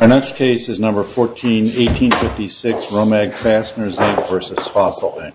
Our next case is number 14, 1856 Romag Fasteners, Inc. v. Fossil, Inc.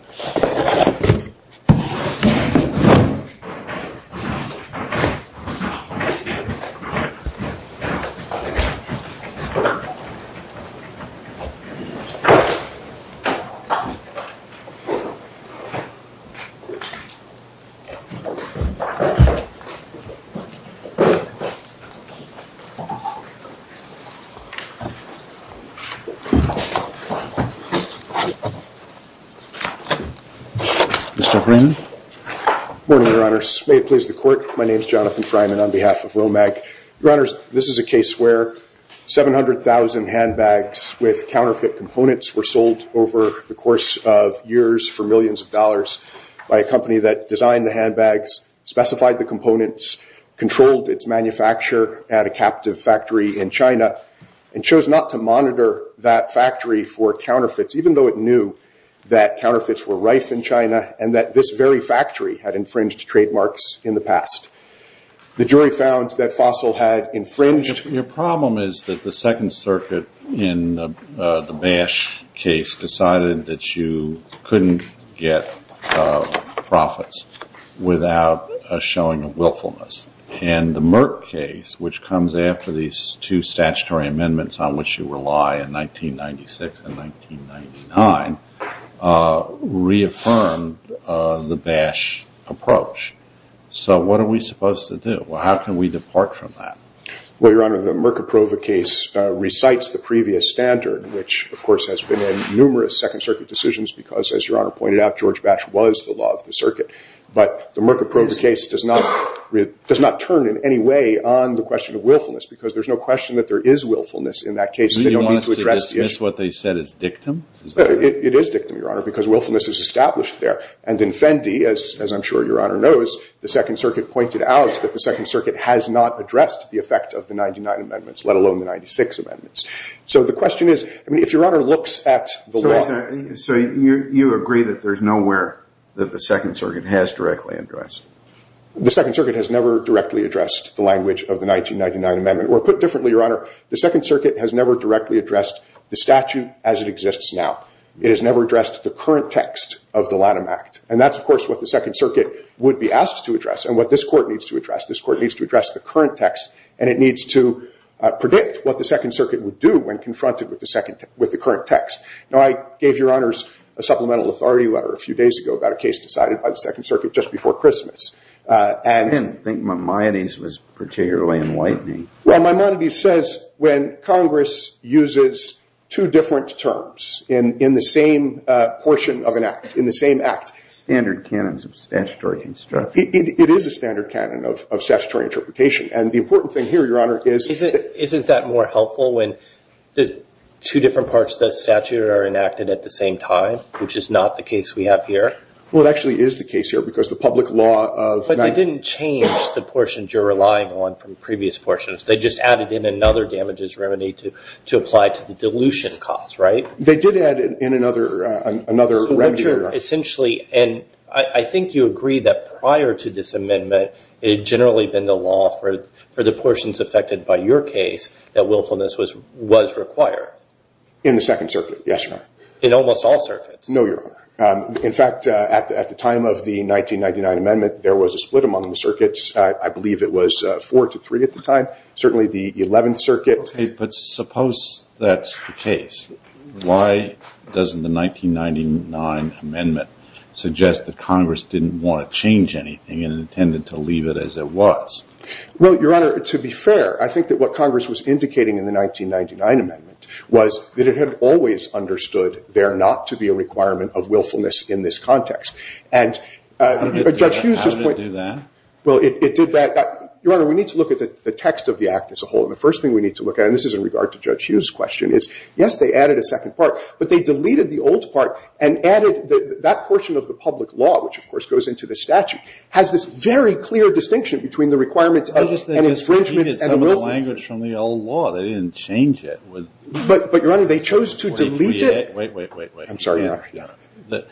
Good morning, Your Honors. May it please the Court, my name is Jonathan Fryman on behalf of Romag. Your Honors, this is a case where 700,000 handbags with counterfeit components were sold over the course of years for millions of dollars by a company that designed the handbags, specified the components, controlled its manufacture at a captive factory in China, and chose not to monitor that factory for counterfeits, even though it knew that counterfeits were rife in China and that this very factory had infringed trademarks in the past. The jury found that Fossil had infringed... Well, Your Honor, the Merka Prova case recites the previous standard, which, of course, has been in numerous Second Circuit decisions because, as Your Honor pointed out, George Batch was the law of the circuit. But the Merka Prova case does not turn in any way on the question of willfulness, because there's no question that there is willfulness in that case. Do you want us to dismiss what they said as dictum? It is dictum, Your Honor, because willfulness is established there. And in Fendi, as I'm sure Your Honor knows, the Second Circuit pointed out that the Second Circuit has not addressed the effect of the 99 amendments, let alone the 96 amendments. So the question is, I mean, if Your Honor looks at the law... So you agree that there's nowhere that the Second Circuit has directly addressed? The Second Circuit has never directly addressed the language of the 1999 amendment. Or put differently, Your Honor, the Second Circuit has never directly addressed the statute as it exists now. It has never addressed the current text of the Lanham Act. And that's, of course, what the Second Circuit would be asked to address and what this court needs to address. This court needs to address the current text, and it needs to predict what the Second Circuit would do when confronted with the current text. Now, I gave Your Honors a supplemental authority letter a few days ago about a case decided by the Second Circuit just before Christmas. And I think Maimonides was particularly enlightening. Well, Maimonides says when Congress uses two different terms in the same portion of an act, in the same act... Standard canons of statutory instruction. It is a standard canon of statutory interpretation. And the important thing here, Your Honor, is that... Is that helpful when the two different parts of the statute are enacted at the same time, which is not the case we have here? Well, it actually is the case here, because the public law of... But they didn't change the portions you're relying on from previous portions. They just added in another damages remedy to apply to the dilution cost, right? They did add in another remedy, Your Honor. Essentially... And I think you agree that prior to this amendment, it had generally been the law for the portions affected by your case that willfulness was required. In the Second Circuit, yes, Your Honor. In almost all circuits. No, Your Honor. In fact, at the time of the 1999 amendment, there was a split among the circuits. I believe it was four to three at the time. Certainly the 11th Circuit... But suppose that's the case. Why doesn't the 1999 amendment suggest that Congress didn't want to change anything and intended to leave it as it was? Well, Your Honor, to be fair, I think that what Congress was indicating in the 1999 amendment was that it had always understood there not to be a requirement of willfulness in this context. And Judge Hughes just... How did it do that? Well, it did that... Your Honor, we need to look at the text of the Act as a whole. And the first thing we need to look at, and this is in regard to Judge Hughes' question, is, yes, they added a second part, but they deleted the old part and added... That portion of the public law, which, of course, goes into the statute, has this very clear distinction between the requirement of an infringement and a willfulness... I think they just repeated some of the language from the old law. They didn't change it. But, Your Honor, they chose to delete it. Wait, wait, wait, wait. I'm sorry, Your Honor.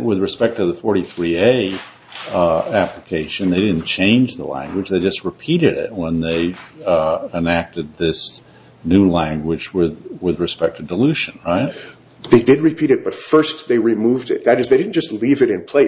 With respect to the 43A application, they didn't change the language. They just repeated it when they enacted this new language with respect to dilution, right? They did repeat it, but first they removed it. That is, they didn't just leave it in between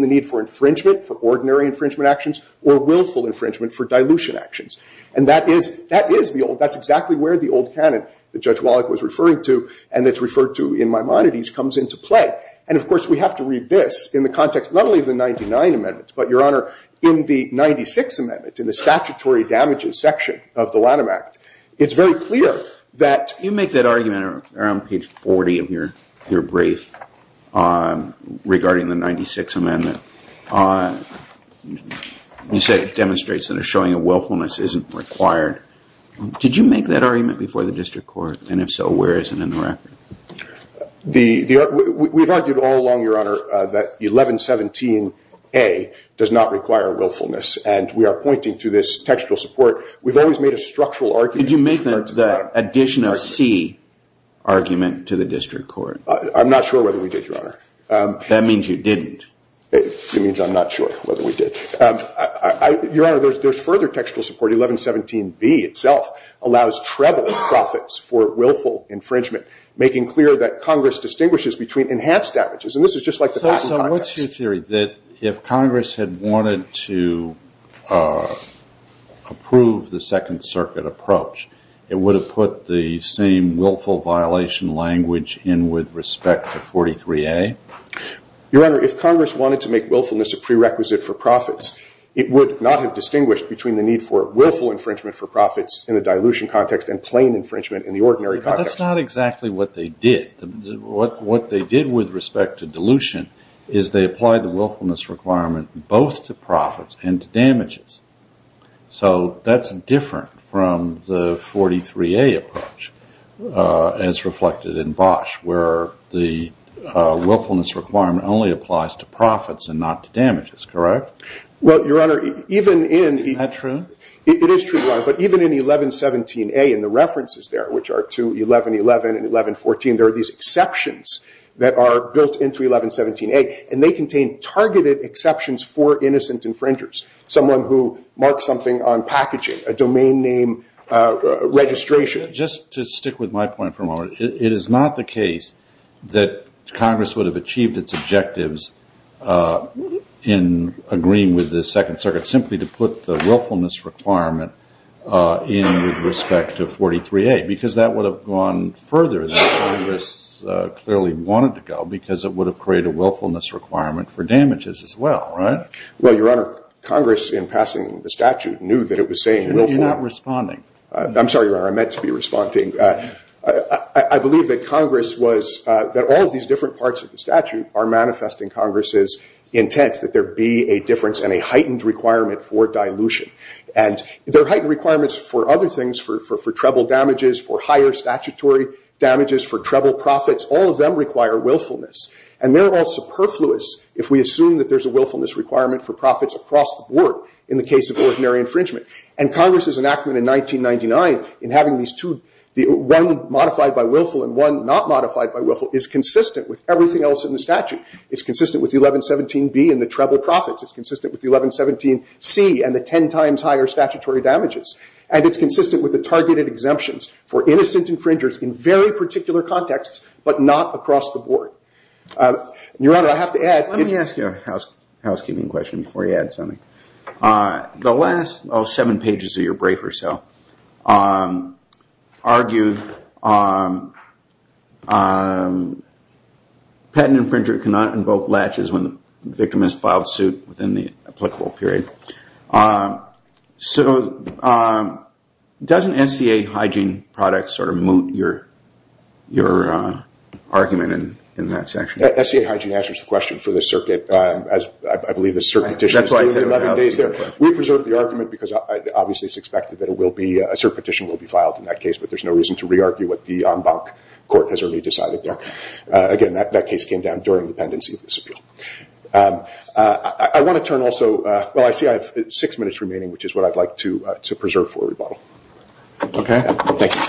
the need for infringement, for ordinary infringement actions, or willful infringement for dilution actions. And that is the old... That's exactly where the old canon that Judge Wallach was referring to, and that's referred to in Maimonides, comes into play. And, of course, we have to read this in the context, not only of the 99 amendments, but, Your Honor, in the 96 amendment, in the statutory damages section of the Lanham Act. It's very clear that... In page 40 of your brief regarding the 96 amendment, you say it demonstrates that a showing of willfulness isn't required. Did you make that argument before the district court? And, if so, where is it in the record? We've argued all along, Your Honor, that 1117A does not require willfulness. And we are pointing to this textual support. We've always made a structural argument... Did you make the additional C argument to the district court? I'm not sure whether we did, Your Honor. That means you didn't. It means I'm not sure whether we did. Your Honor, there's further textual support. 1117B itself allows treble in profits for willful infringement, making clear that Congress distinguishes between enhanced damages. And this is just like the past in context. That's your theory, that if Congress had wanted to approve the Second Circuit approach, it would have put the same willful violation language in with respect to 43A? Your Honor, if Congress wanted to make willfulness a prerequisite for profits, it would not have distinguished between the need for willful infringement for profits in the dilution context and plain infringement in the ordinary context. But that's not exactly what they did. What they did with respect to dilution is they applied the willfulness requirement both to profits and to damages. So that's different from the 43A approach as reflected in Bosch, where the willfulness requirement only applies to profits and not to damages, correct? Well, Your Honor, even in... Is that true? It is true, Your Honor. But even in 1117A, in the references there, which are to 1111 and 1114, there are these exceptions that are built into 1117A. And they contain targeted exceptions for innocent infringers, someone who marks something on packaging, a domain name registration. Just to stick with my point for a moment, it is not the case that Congress would have achieved its objectives in agreeing with the Second Circuit simply to put the willfulness requirement in with respect to 43A, because that would have gone further than Congress clearly wanted to go, because it would have created a willfulness requirement for damages as well, right? Well, Your Honor, Congress, in passing the statute, knew that it was saying willful... You're not responding. I'm sorry, Your Honor. I meant to be responding. I believe that Congress was... That all of these different parts of the statute are manifesting Congress's intent that there be a difference and a heightened requirement for dilution. And there are heightened requirements for other things, for treble damages, for higher statutory damages, for treble profits. All of them require willfulness. And they're all superfluous if we assume that there's a willfulness requirement for profits across the board in the case of ordinary infringement. And Congress's enactment in 1999 in having these two... one not modified by willful is consistent with everything else in the statute. It's consistent with 1117B and the treble profits. It's consistent with 1117C and the 10 times higher statutory damages. And it's consistent with the targeted exemptions for innocent infringers in very particular contexts, but not across the board. Your Honor, I have to add... Let me ask you a housekeeping question before you add something. The last seven pages of your briefer cell argued patent infringer cannot invoke latches when the victim has filed suit within the applicable period. So doesn't SCA hygiene products sort of moot your argument in that section? SCA hygiene answers the question for the circuit. We preserved the argument because obviously it's expected that a circuit petition will be filed in that case, but there's no reason to re-argue what the en banc court has already decided there. Again, that case came down during the pendency of this appeal. I want to turn also... Well, I see I have six minutes remaining, which is what I'd like to preserve for rebuttal. Okay. Thank you.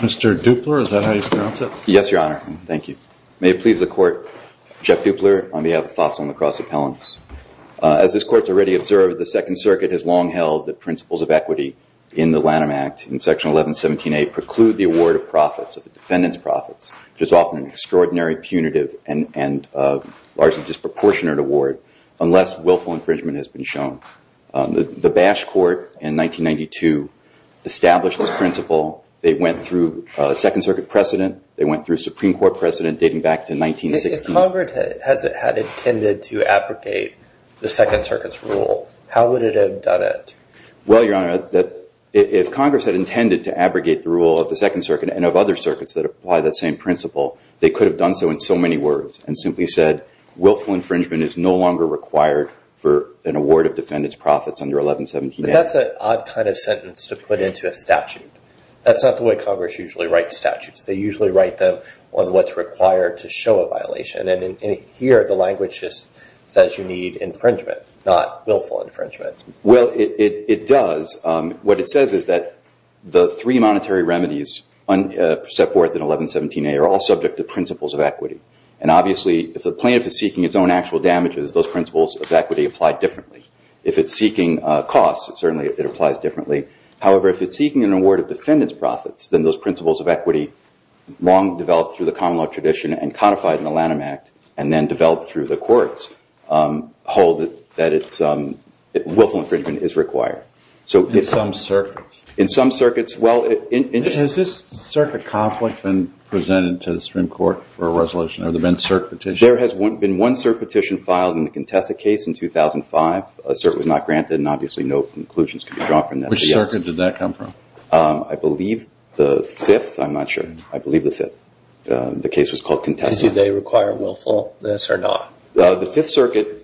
Mr. Dupler, is that how you pronounce it? Yes, Your Honor. Thank you. May it please the court. Jeff Dupler on behalf of Fossil and Lacrosse Appellants. As this court's already observed, the Second Circuit has long held that principles of equity in the Lanham Act in Section 1117A preclude the award of profits of the defendant's profits, which is often an extraordinary, punitive, and largely disproportionate award, unless willful infringement has been shown. The Bash Court in 1992 established this principle. They went through a Second Circuit precedent. They went through a Supreme Court precedent dating back to 1916. If Congress had intended to abrogate the Second Circuit's rule, how would it have done it? Well, Your Honor, if Congress had intended to abrogate the rule of the Second Circuit and of other circuits that apply that same principle, they could have done so in so many words and simply said, willful infringement is no longer required for an award of defendant's profits under 1117A. But that's an odd kind of sentence to put into a statute. That's not the way Congress usually writes statutes. They usually write them on what's required to show a violation. And here, the language just says you need infringement, not willful infringement. Well, it does. What it says is that the three monetary remedies set forth in 1117A are all subject to principles of equity. And obviously, if a plaintiff is seeking its own actual damages, those principles of equity apply differently. If it's seeking costs, certainly it applies differently. However, if it's seeking an award of defendant's profits, then those principles of equity, long developed through the common law tradition and codified in the Lanham Act, and then developed through the courts, hold that willful infringement is required. In some circuits? In some circuits. Has this circuit conflict been presented to the Supreme Court for a resolution? Have there been cert petitions? There has been one cert petition filed in the Contessa case in 2005. A cert was not granted, and obviously no conclusions could be drawn from that. Which circuit did that come from? I believe the Fifth. I'm not sure. I believe the Fifth. The case was called Contessa. Do they require willfulness or not? The Fifth Circuit,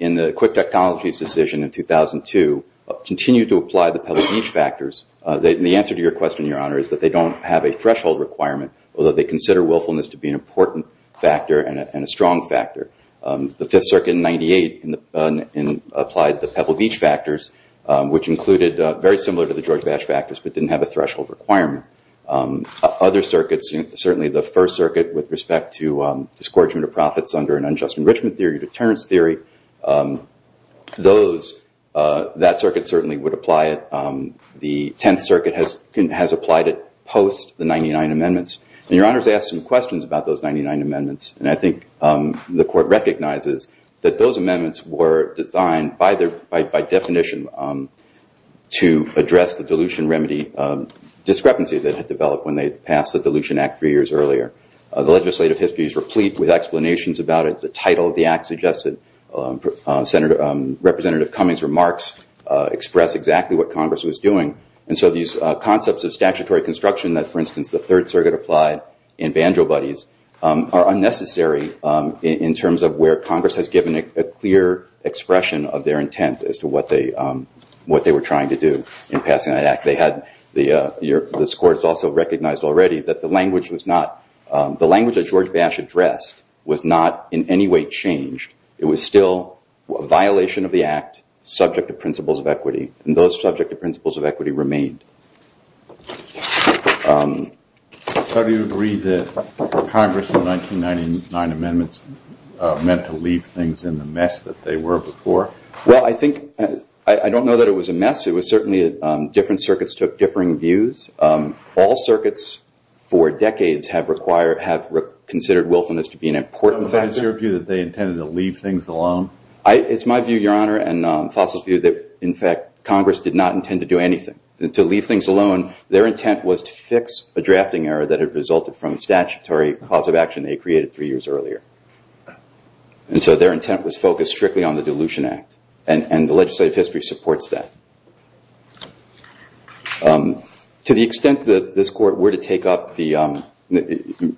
in the Quick Technologies decision in 2002, continued to apply the public need factors. The answer to your question, Your Honor, is that they don't have a threshold requirement, although they consider willfulness to be an important factor and a strong factor. The Fifth Circuit in 1998 applied the Pebble Beach factors, which included, very similar to the George Bash factors, but didn't have a threshold requirement. Other circuits, certainly the First Circuit, with respect to discouragement of profits under an unjust enrichment theory, deterrence theory, that circuit certainly would apply it. The Tenth Circuit has applied it post the 99 Amendments. Your Honor has asked some questions about those 99 Amendments, and I think the Court recognizes that those Amendments were designed, by definition, to address the dilution remedy discrepancy that had developed when they passed the Dilution Act three years earlier. The legislative history is replete with explanations about it. The title of the Act suggested Representative Cummings' remarks express exactly what Congress was doing. These concepts of statutory construction that, for instance, the Third Circuit applied in Banjo Buddies, are unnecessary in terms of where Congress has given a clear expression of their intent as to what they were trying to do in passing that Act. This Court has also recognized already that the language that George Bash addressed was not in any way changed. It was still a violation of the Act, subject to principles of equity, and those subject to principles of equity remained. How do you agree that Congress in the 1999 Amendments meant to leave things in the mess that they were before? Well, I don't know that it was a mess. It was certainly that different circuits took differing views. All circuits, for decades, have considered willfulness to be an important factor. Is your view that they intended to leave things alone? It's my view, Your Honor, and Fossil's view, that, in fact, Congress did not intend to do anything. To leave things alone, their intent was to fix a drafting error that had resulted from a statutory cause of action they created three years earlier. And so their intent was focused strictly on the Dilution Act, and the legislative history supports that. To the extent that this Court were to take up Romek's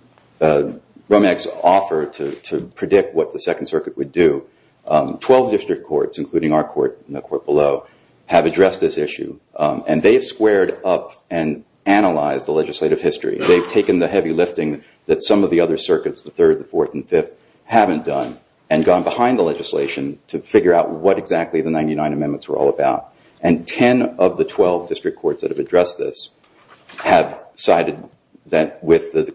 offer to predict what the Second Circuit would do, 12 district courts, including our court and the court below, have addressed this issue. And they've squared up and analyzed the legislative history. They've taken the heavy lifting that some of the other circuits, the Third, the Fourth, and Fifth, haven't done, and gone behind the legislation to figure out what exactly the 1999 Amendments were all about. And 10 of the 12 district courts that have addressed this have come to the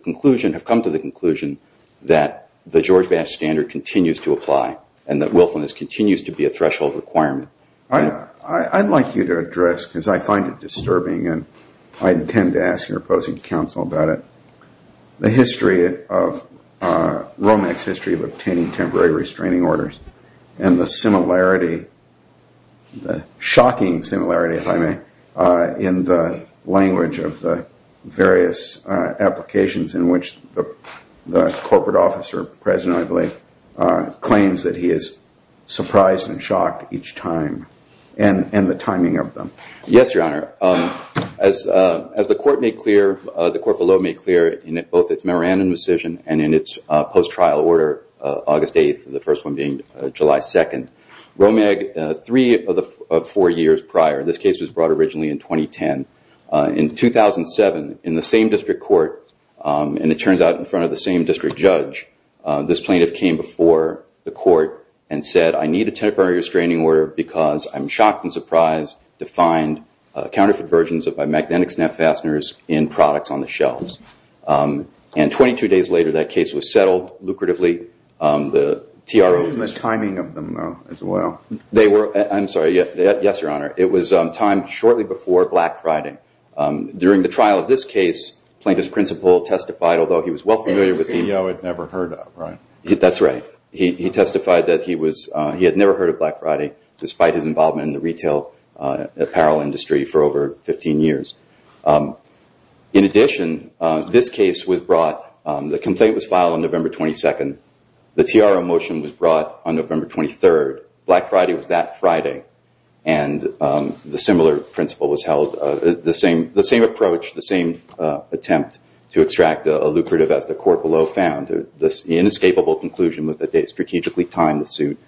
conclusion that the George Bash Standard continues to apply, and that willfulness continues to be a threshold requirement. I'd like you to address, because I find it disturbing, and I intend to ask your opposing counsel about it, the history of Romek's history of obtaining temporary restraining orders, and the similarity, the shocking similarity, if I may, in the language of the various applications in which the corporate officer, President, I believe, claims that he is surprised and shocked each time, and the timing of them. Yes, Your Honor. As the Court below made clear in both its memorandum decision and in its post-trial order, August 8th, the first one being July 2nd, Romek, three of the four years prior, this case was brought originally in 2010. In 2007, in the same district court, and it turns out in front of the same district judge, this plaintiff came before the court and said, I need a temporary restraining order because I'm shocked and surprised to find counterfeit versions of my magnetic snap fasteners in products on the shelves. And 22 days later, that case was settled lucratively. And the timing of them as well. I'm sorry, yes, Your Honor. It was timed shortly before Black Friday. During the trial of this case, plaintiff's principal testified, although he was well familiar with the... He testified that he had never heard of Black Friday despite his involvement in the retail apparel industry for over 15 years. In addition, this case was brought... The complaint was filed on November 22nd. The TRO motion was brought on November 23rd. Black Friday was that Friday. And the similar principle was held. The same approach, the same attempt to extract a lucrative as the court below found. The inescapable conclusion was that they strategically timed the suit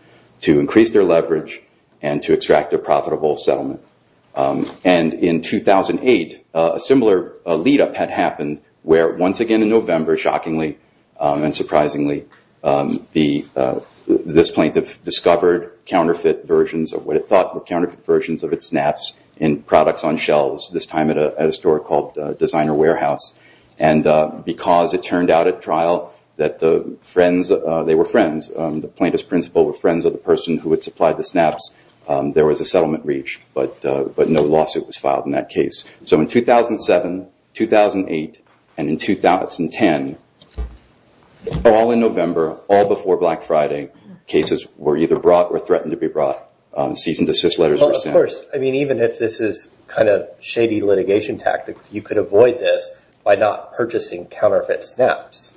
to increase their leverage and to extract a profitable settlement. And in 2008, a similar lead-up had happened where once again in November, shockingly and surprisingly, this plaintiff discovered counterfeit versions of what it thought were counterfeit versions of its snaps in products on shelves, this time at a store called Designer Warehouse. And because it turned out at trial that the friends... They were friends. The plaintiff's principal were friends of the person who had supplied the snaps, there was a settlement reached. But no lawsuit was filed in that case. So in 2007, 2008, and in 2010, all in November, all before Black Friday, cases were either brought or threatened to be brought. Seasoned assist letters were sent. Even if this is kind of shady litigation tactics, you could avoid this by not purchasing counterfeit snaps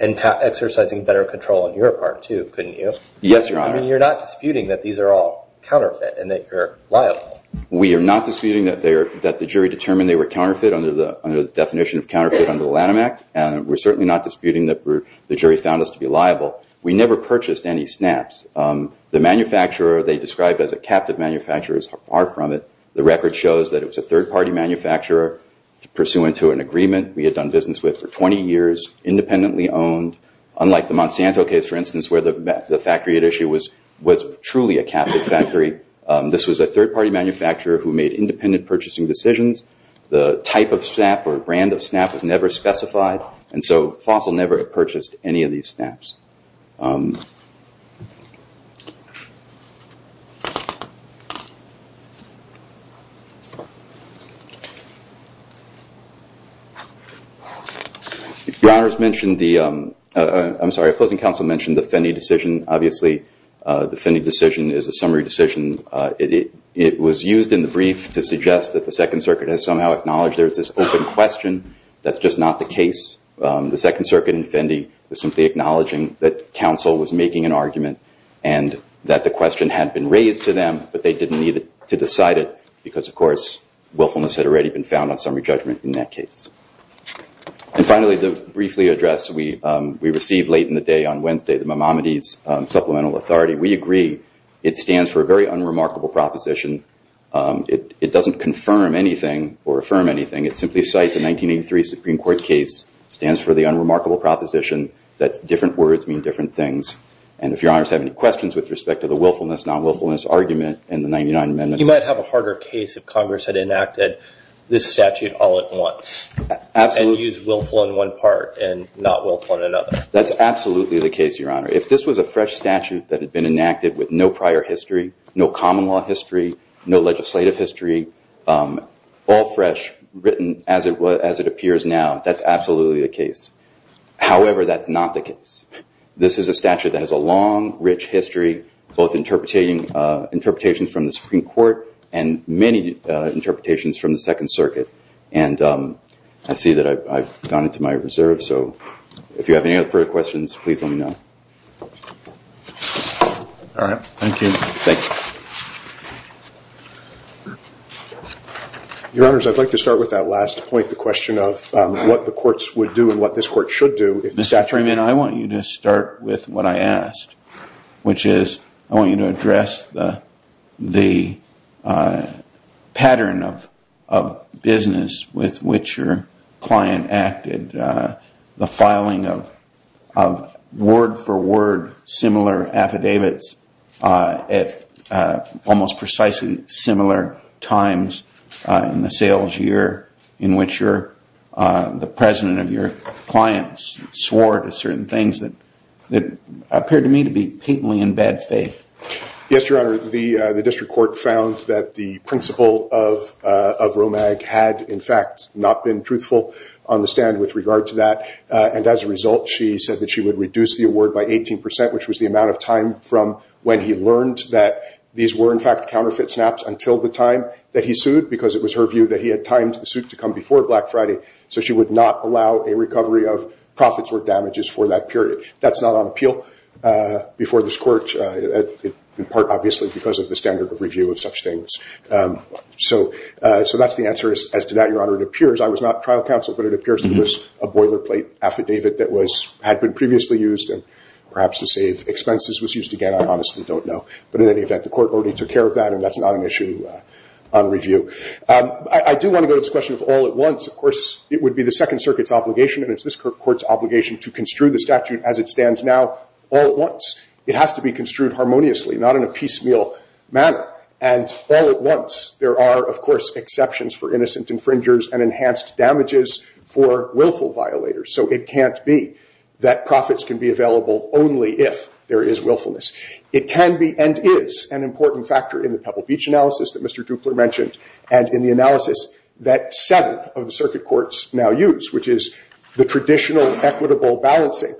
and exercising better control on your part too, couldn't you? Yes, Your Honor. You're not disputing that these are all counterfeit and that you're liable. We are not disputing that the jury determined they were counterfeit under the definition of counterfeit under the Lanham Act and we're certainly not disputing that the jury found us to be liable. We never purchased any snaps. The manufacturer they described as a captive manufacturer is far from it. The record shows that it was a third-party manufacturer pursuant to an agreement we had done business with for 20 years, independently owned, unlike the Monsanto case, for instance, where the factory at issue was truly a captive factory. This was a third-party manufacturer who made independent purchasing decisions. The type of snap or brand of snap was never specified. And so Fossil never purchased any of these snaps. Your Honor has mentioned the, I'm sorry, opposing counsel mentioned the Fenney decision. Obviously, the Fenney decision is a summary decision. It was used in the brief to suggest that the Second Circuit has somehow acknowledged there is this open question that's just not the case. The Second Circuit in Fenney was simply acknowledging that counsel was making an argument and that the question had been raised to them, but they didn't need to decide it because, of course, willfulness had already been found on summary judgment in that case. And finally, the briefly addressed, we received late in the day on Wednesday, the Mamamides Supplemental Authority. We agree it stands for a very unremarkable proposition. It doesn't confirm anything or affirm anything. It simply cites a 1983 Supreme Court case. It stands for the unremarkable proposition that different words mean different things. And if Your Honor has any questions with respect to the willfulness, non-willfulness argument in the 99 amendments You might have a harder case if Congress had enacted this statute all at once and used willful in one part and not willful in another. That's absolutely the case, Your Honor. If this was a fresh statute that had been enacted with no prior history, no common law history, no legislative history, all fresh, written as it appears now, that's absolutely the case. However, that's not the case. This is a statute that has a long, rich history both interpretations from the Supreme Court and many interpretations from the Second Circuit. And I see that I've gone into my reserve, so if you have any further questions, please let me know. All right. Thank you. Your Honors, I'd like to start with that last point, the question of what the courts would do and what this court should do. Mr. Freeman, I want you to start with what I asked, which is I want you to address the pattern of business with which your client acted, the filing of word-for-word similar affidavits at almost precisely similar times in the sales year in which the president of your clients swore to certain things that appeared to me to be patently in bad faith. Yes, Your Honor. The district court found that the principle of ROMAG had, in fact, not been truthful on the stand with regard to that. And as a result, she said that she would reduce the award by 18%, which was the amount of time from when he learned that these were, in fact, counterfeit snaps until the time that he sued, because it was her view that he had timed the suit to come before Black Friday, so she would not allow a recovery of profits or damages for that period. That's not on appeal before this court, in part, obviously, because of the standard of review of such things. So that's the answer as to that, Your Honor. I was not trial counsel, but it appears there was a boilerplate affidavit that had been previously used and perhaps to save expenses was used again. I honestly don't know. But in any event, the court already took care of that, and that's not an issue on review. I do want to go to this question of all at once. Of course, it would be the Second Circuit's obligation, and it's this court's obligation to construe the statute as it stands now all at once. It has to be construed harmoniously, not in a piecemeal manner. And all at once there are, of course, exceptions for innocent infringers and enhanced damages for willful violators. So it can't be that profits can be available only if there is willfulness. It can be and is an important factor in the Pebble Beach analysis that Mr. Dupler mentioned and in the analysis that seven of the circuit courts now use, which is the traditional equitable balancing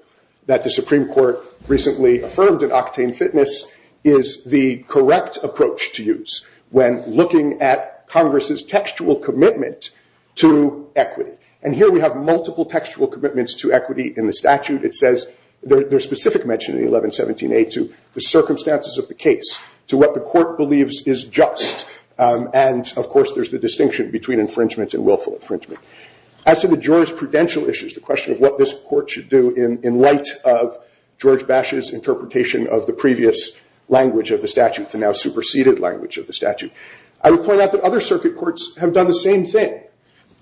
that the Supreme Court recently affirmed in Octane Fitness is the correct approach to use when looking at Congress's textual commitment to equity. And here we have multiple textual commitments to equity in the statute. It says, there's specific mention in 1117A to the circumstances of the case to what the court believes is just. And, of course, there's the distinction between infringement and willful infringement. As to the jurisprudential issues, the question of what this court should do in light of the language of the statute, the now superseded language of the statute. I would point out that other circuit courts have done the same thing.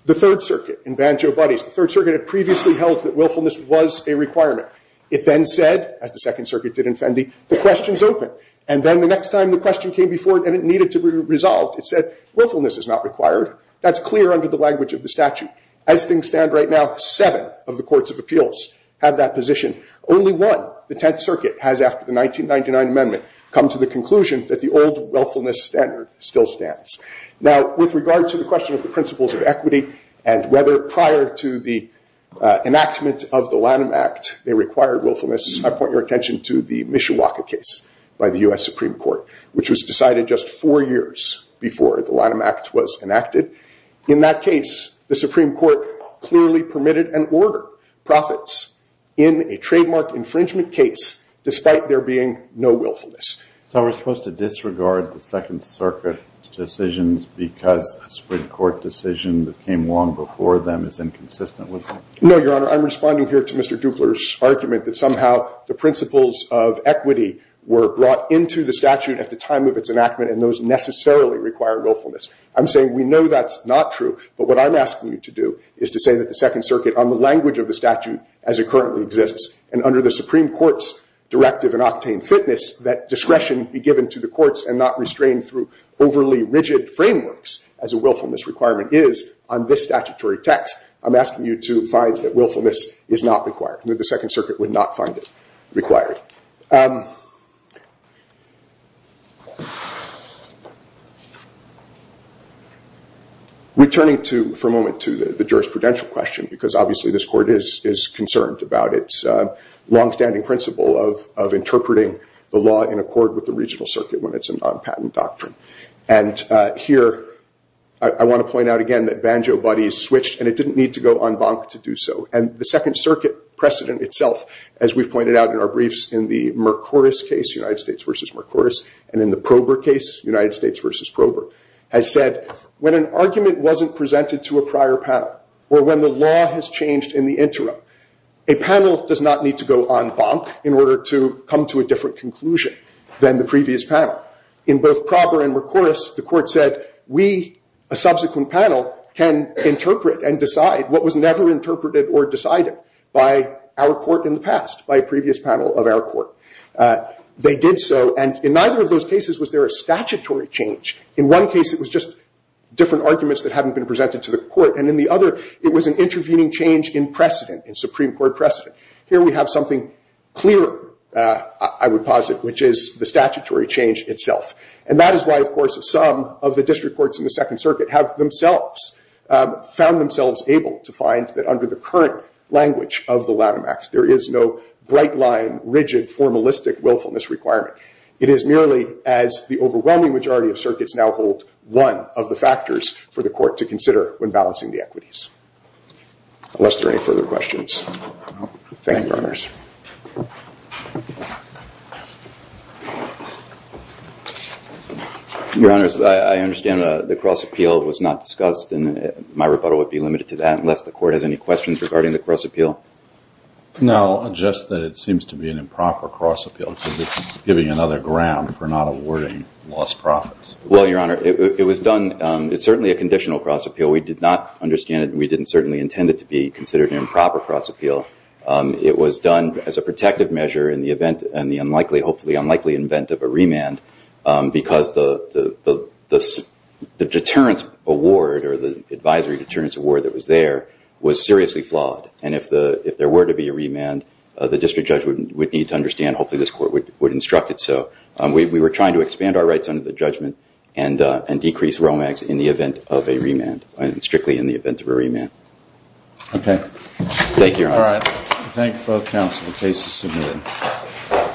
The Third Circuit in Banjo Buddies, the Third Circuit had previously held that willfulness was a requirement. It then said, as the Second Circuit did in Fendi, the question's open. And then the next time the question came before it and it needed to be resolved, it said, willfulness is not required. That's clear under the language of the statute. As things stand right now, seven of the courts of appeals have that position. Only one, the Tenth Circuit, has after the 1999 amendment come to the conclusion that the old willfulness standard still stands. Now, with regard to the question of the principles of equity and whether prior to the enactment of the Lanham Act they required willfulness, I point your attention to the Mishawaka case by the U.S. Supreme Court, which was decided just four years before the Lanham Act was enacted. In that case, the Supreme Court clearly permitted and ordered profits in a trademark infringement case despite there being no willfulness. So we're supposed to disregard the Second Circuit decisions because a Supreme Court decision that came long before them is inconsistent with that? No, Your Honor. I'm responding here to Mr. Duklar's argument that somehow the principles of equity were brought into the statute at the time of its enactment and those necessarily require willfulness. I'm saying we know that's not true, but what I'm asking you to do is to say that the Second Circuit, on the language of the statute as it currently exists, and under the Supreme Court's directive in octane fitness, that discretion be given to the courts and not restrained through overly rigid frameworks as a willfulness requirement is on this statutory text, I'm asking you to find that willfulness is not required, that the Second Circuit would not find it required. Returning for a moment to the jurisprudential question, because obviously this court is concerned about its long-standing principle of interpreting the law in accord with the regional circuit when it's a non-patent doctrine. And here, I want to point out again that Banjo Buddy is switched and it didn't need to go en banc to do so. And the Second Circuit precedent itself, as we've pointed out in our briefs in the last couple of weeks, in the Mercorus case, United States v. Mercorus, and in the Prober case, United States v. Prober, has said when an argument wasn't presented to a prior panel or when the law has changed in the interim, a panel does not need to go en banc in order to come to a different conclusion than the previous panel. In both Prober and Mercorus, the court said we, a subsequent panel, can interpret and decide what was never interpreted or decided by our court in the past, by a previous panel of our court. They did so, and in neither of those cases was there a statutory change. In one case, it was just different arguments that hadn't been presented to the court, and in the other it was an intervening change in precedent, in Supreme Court precedent. Here we have something clearer, I would posit, which is the statutory change itself. And that is why, of course, some of the district courts in the Second Circuit have themselves found themselves able to find that under the current language of the LATIMAX there is no bright-line, rigid, formalistic willfulness requirement. It is merely as the overwhelming majority of circuits now hold one of the factors for the court to consider when balancing the equities. Unless there are any further questions. Thank you, Your Honors. Your Honors, I understand the cross-appeal was not discussed, and my rebuttal would be limited to that, unless the court has any questions regarding the cross-appeal? No, just that it seems to be an improper cross-appeal because it's giving another ground for not awarding lost profits. Well, Your Honor, it was done, it's certainly a conditional cross-appeal. We did not understand it, and we didn't certainly intend it to be considered an improper cross-appeal. It was done as a protective measure in the event, and the unlikely, hopefully unlikely, event of a remand, because the deterrence award, or the advisory deterrence award that was there, was seriously flawed, and if there were to be a remand, the district judge would need to understand, hopefully this court would instruct it so. We were trying to expand our rights under the judgment, and decrease ROMAX in the event of a remand, and strictly in the event of a remand. Okay. Thank you, Your Honor. Thank you both, counsel. The case is submitted.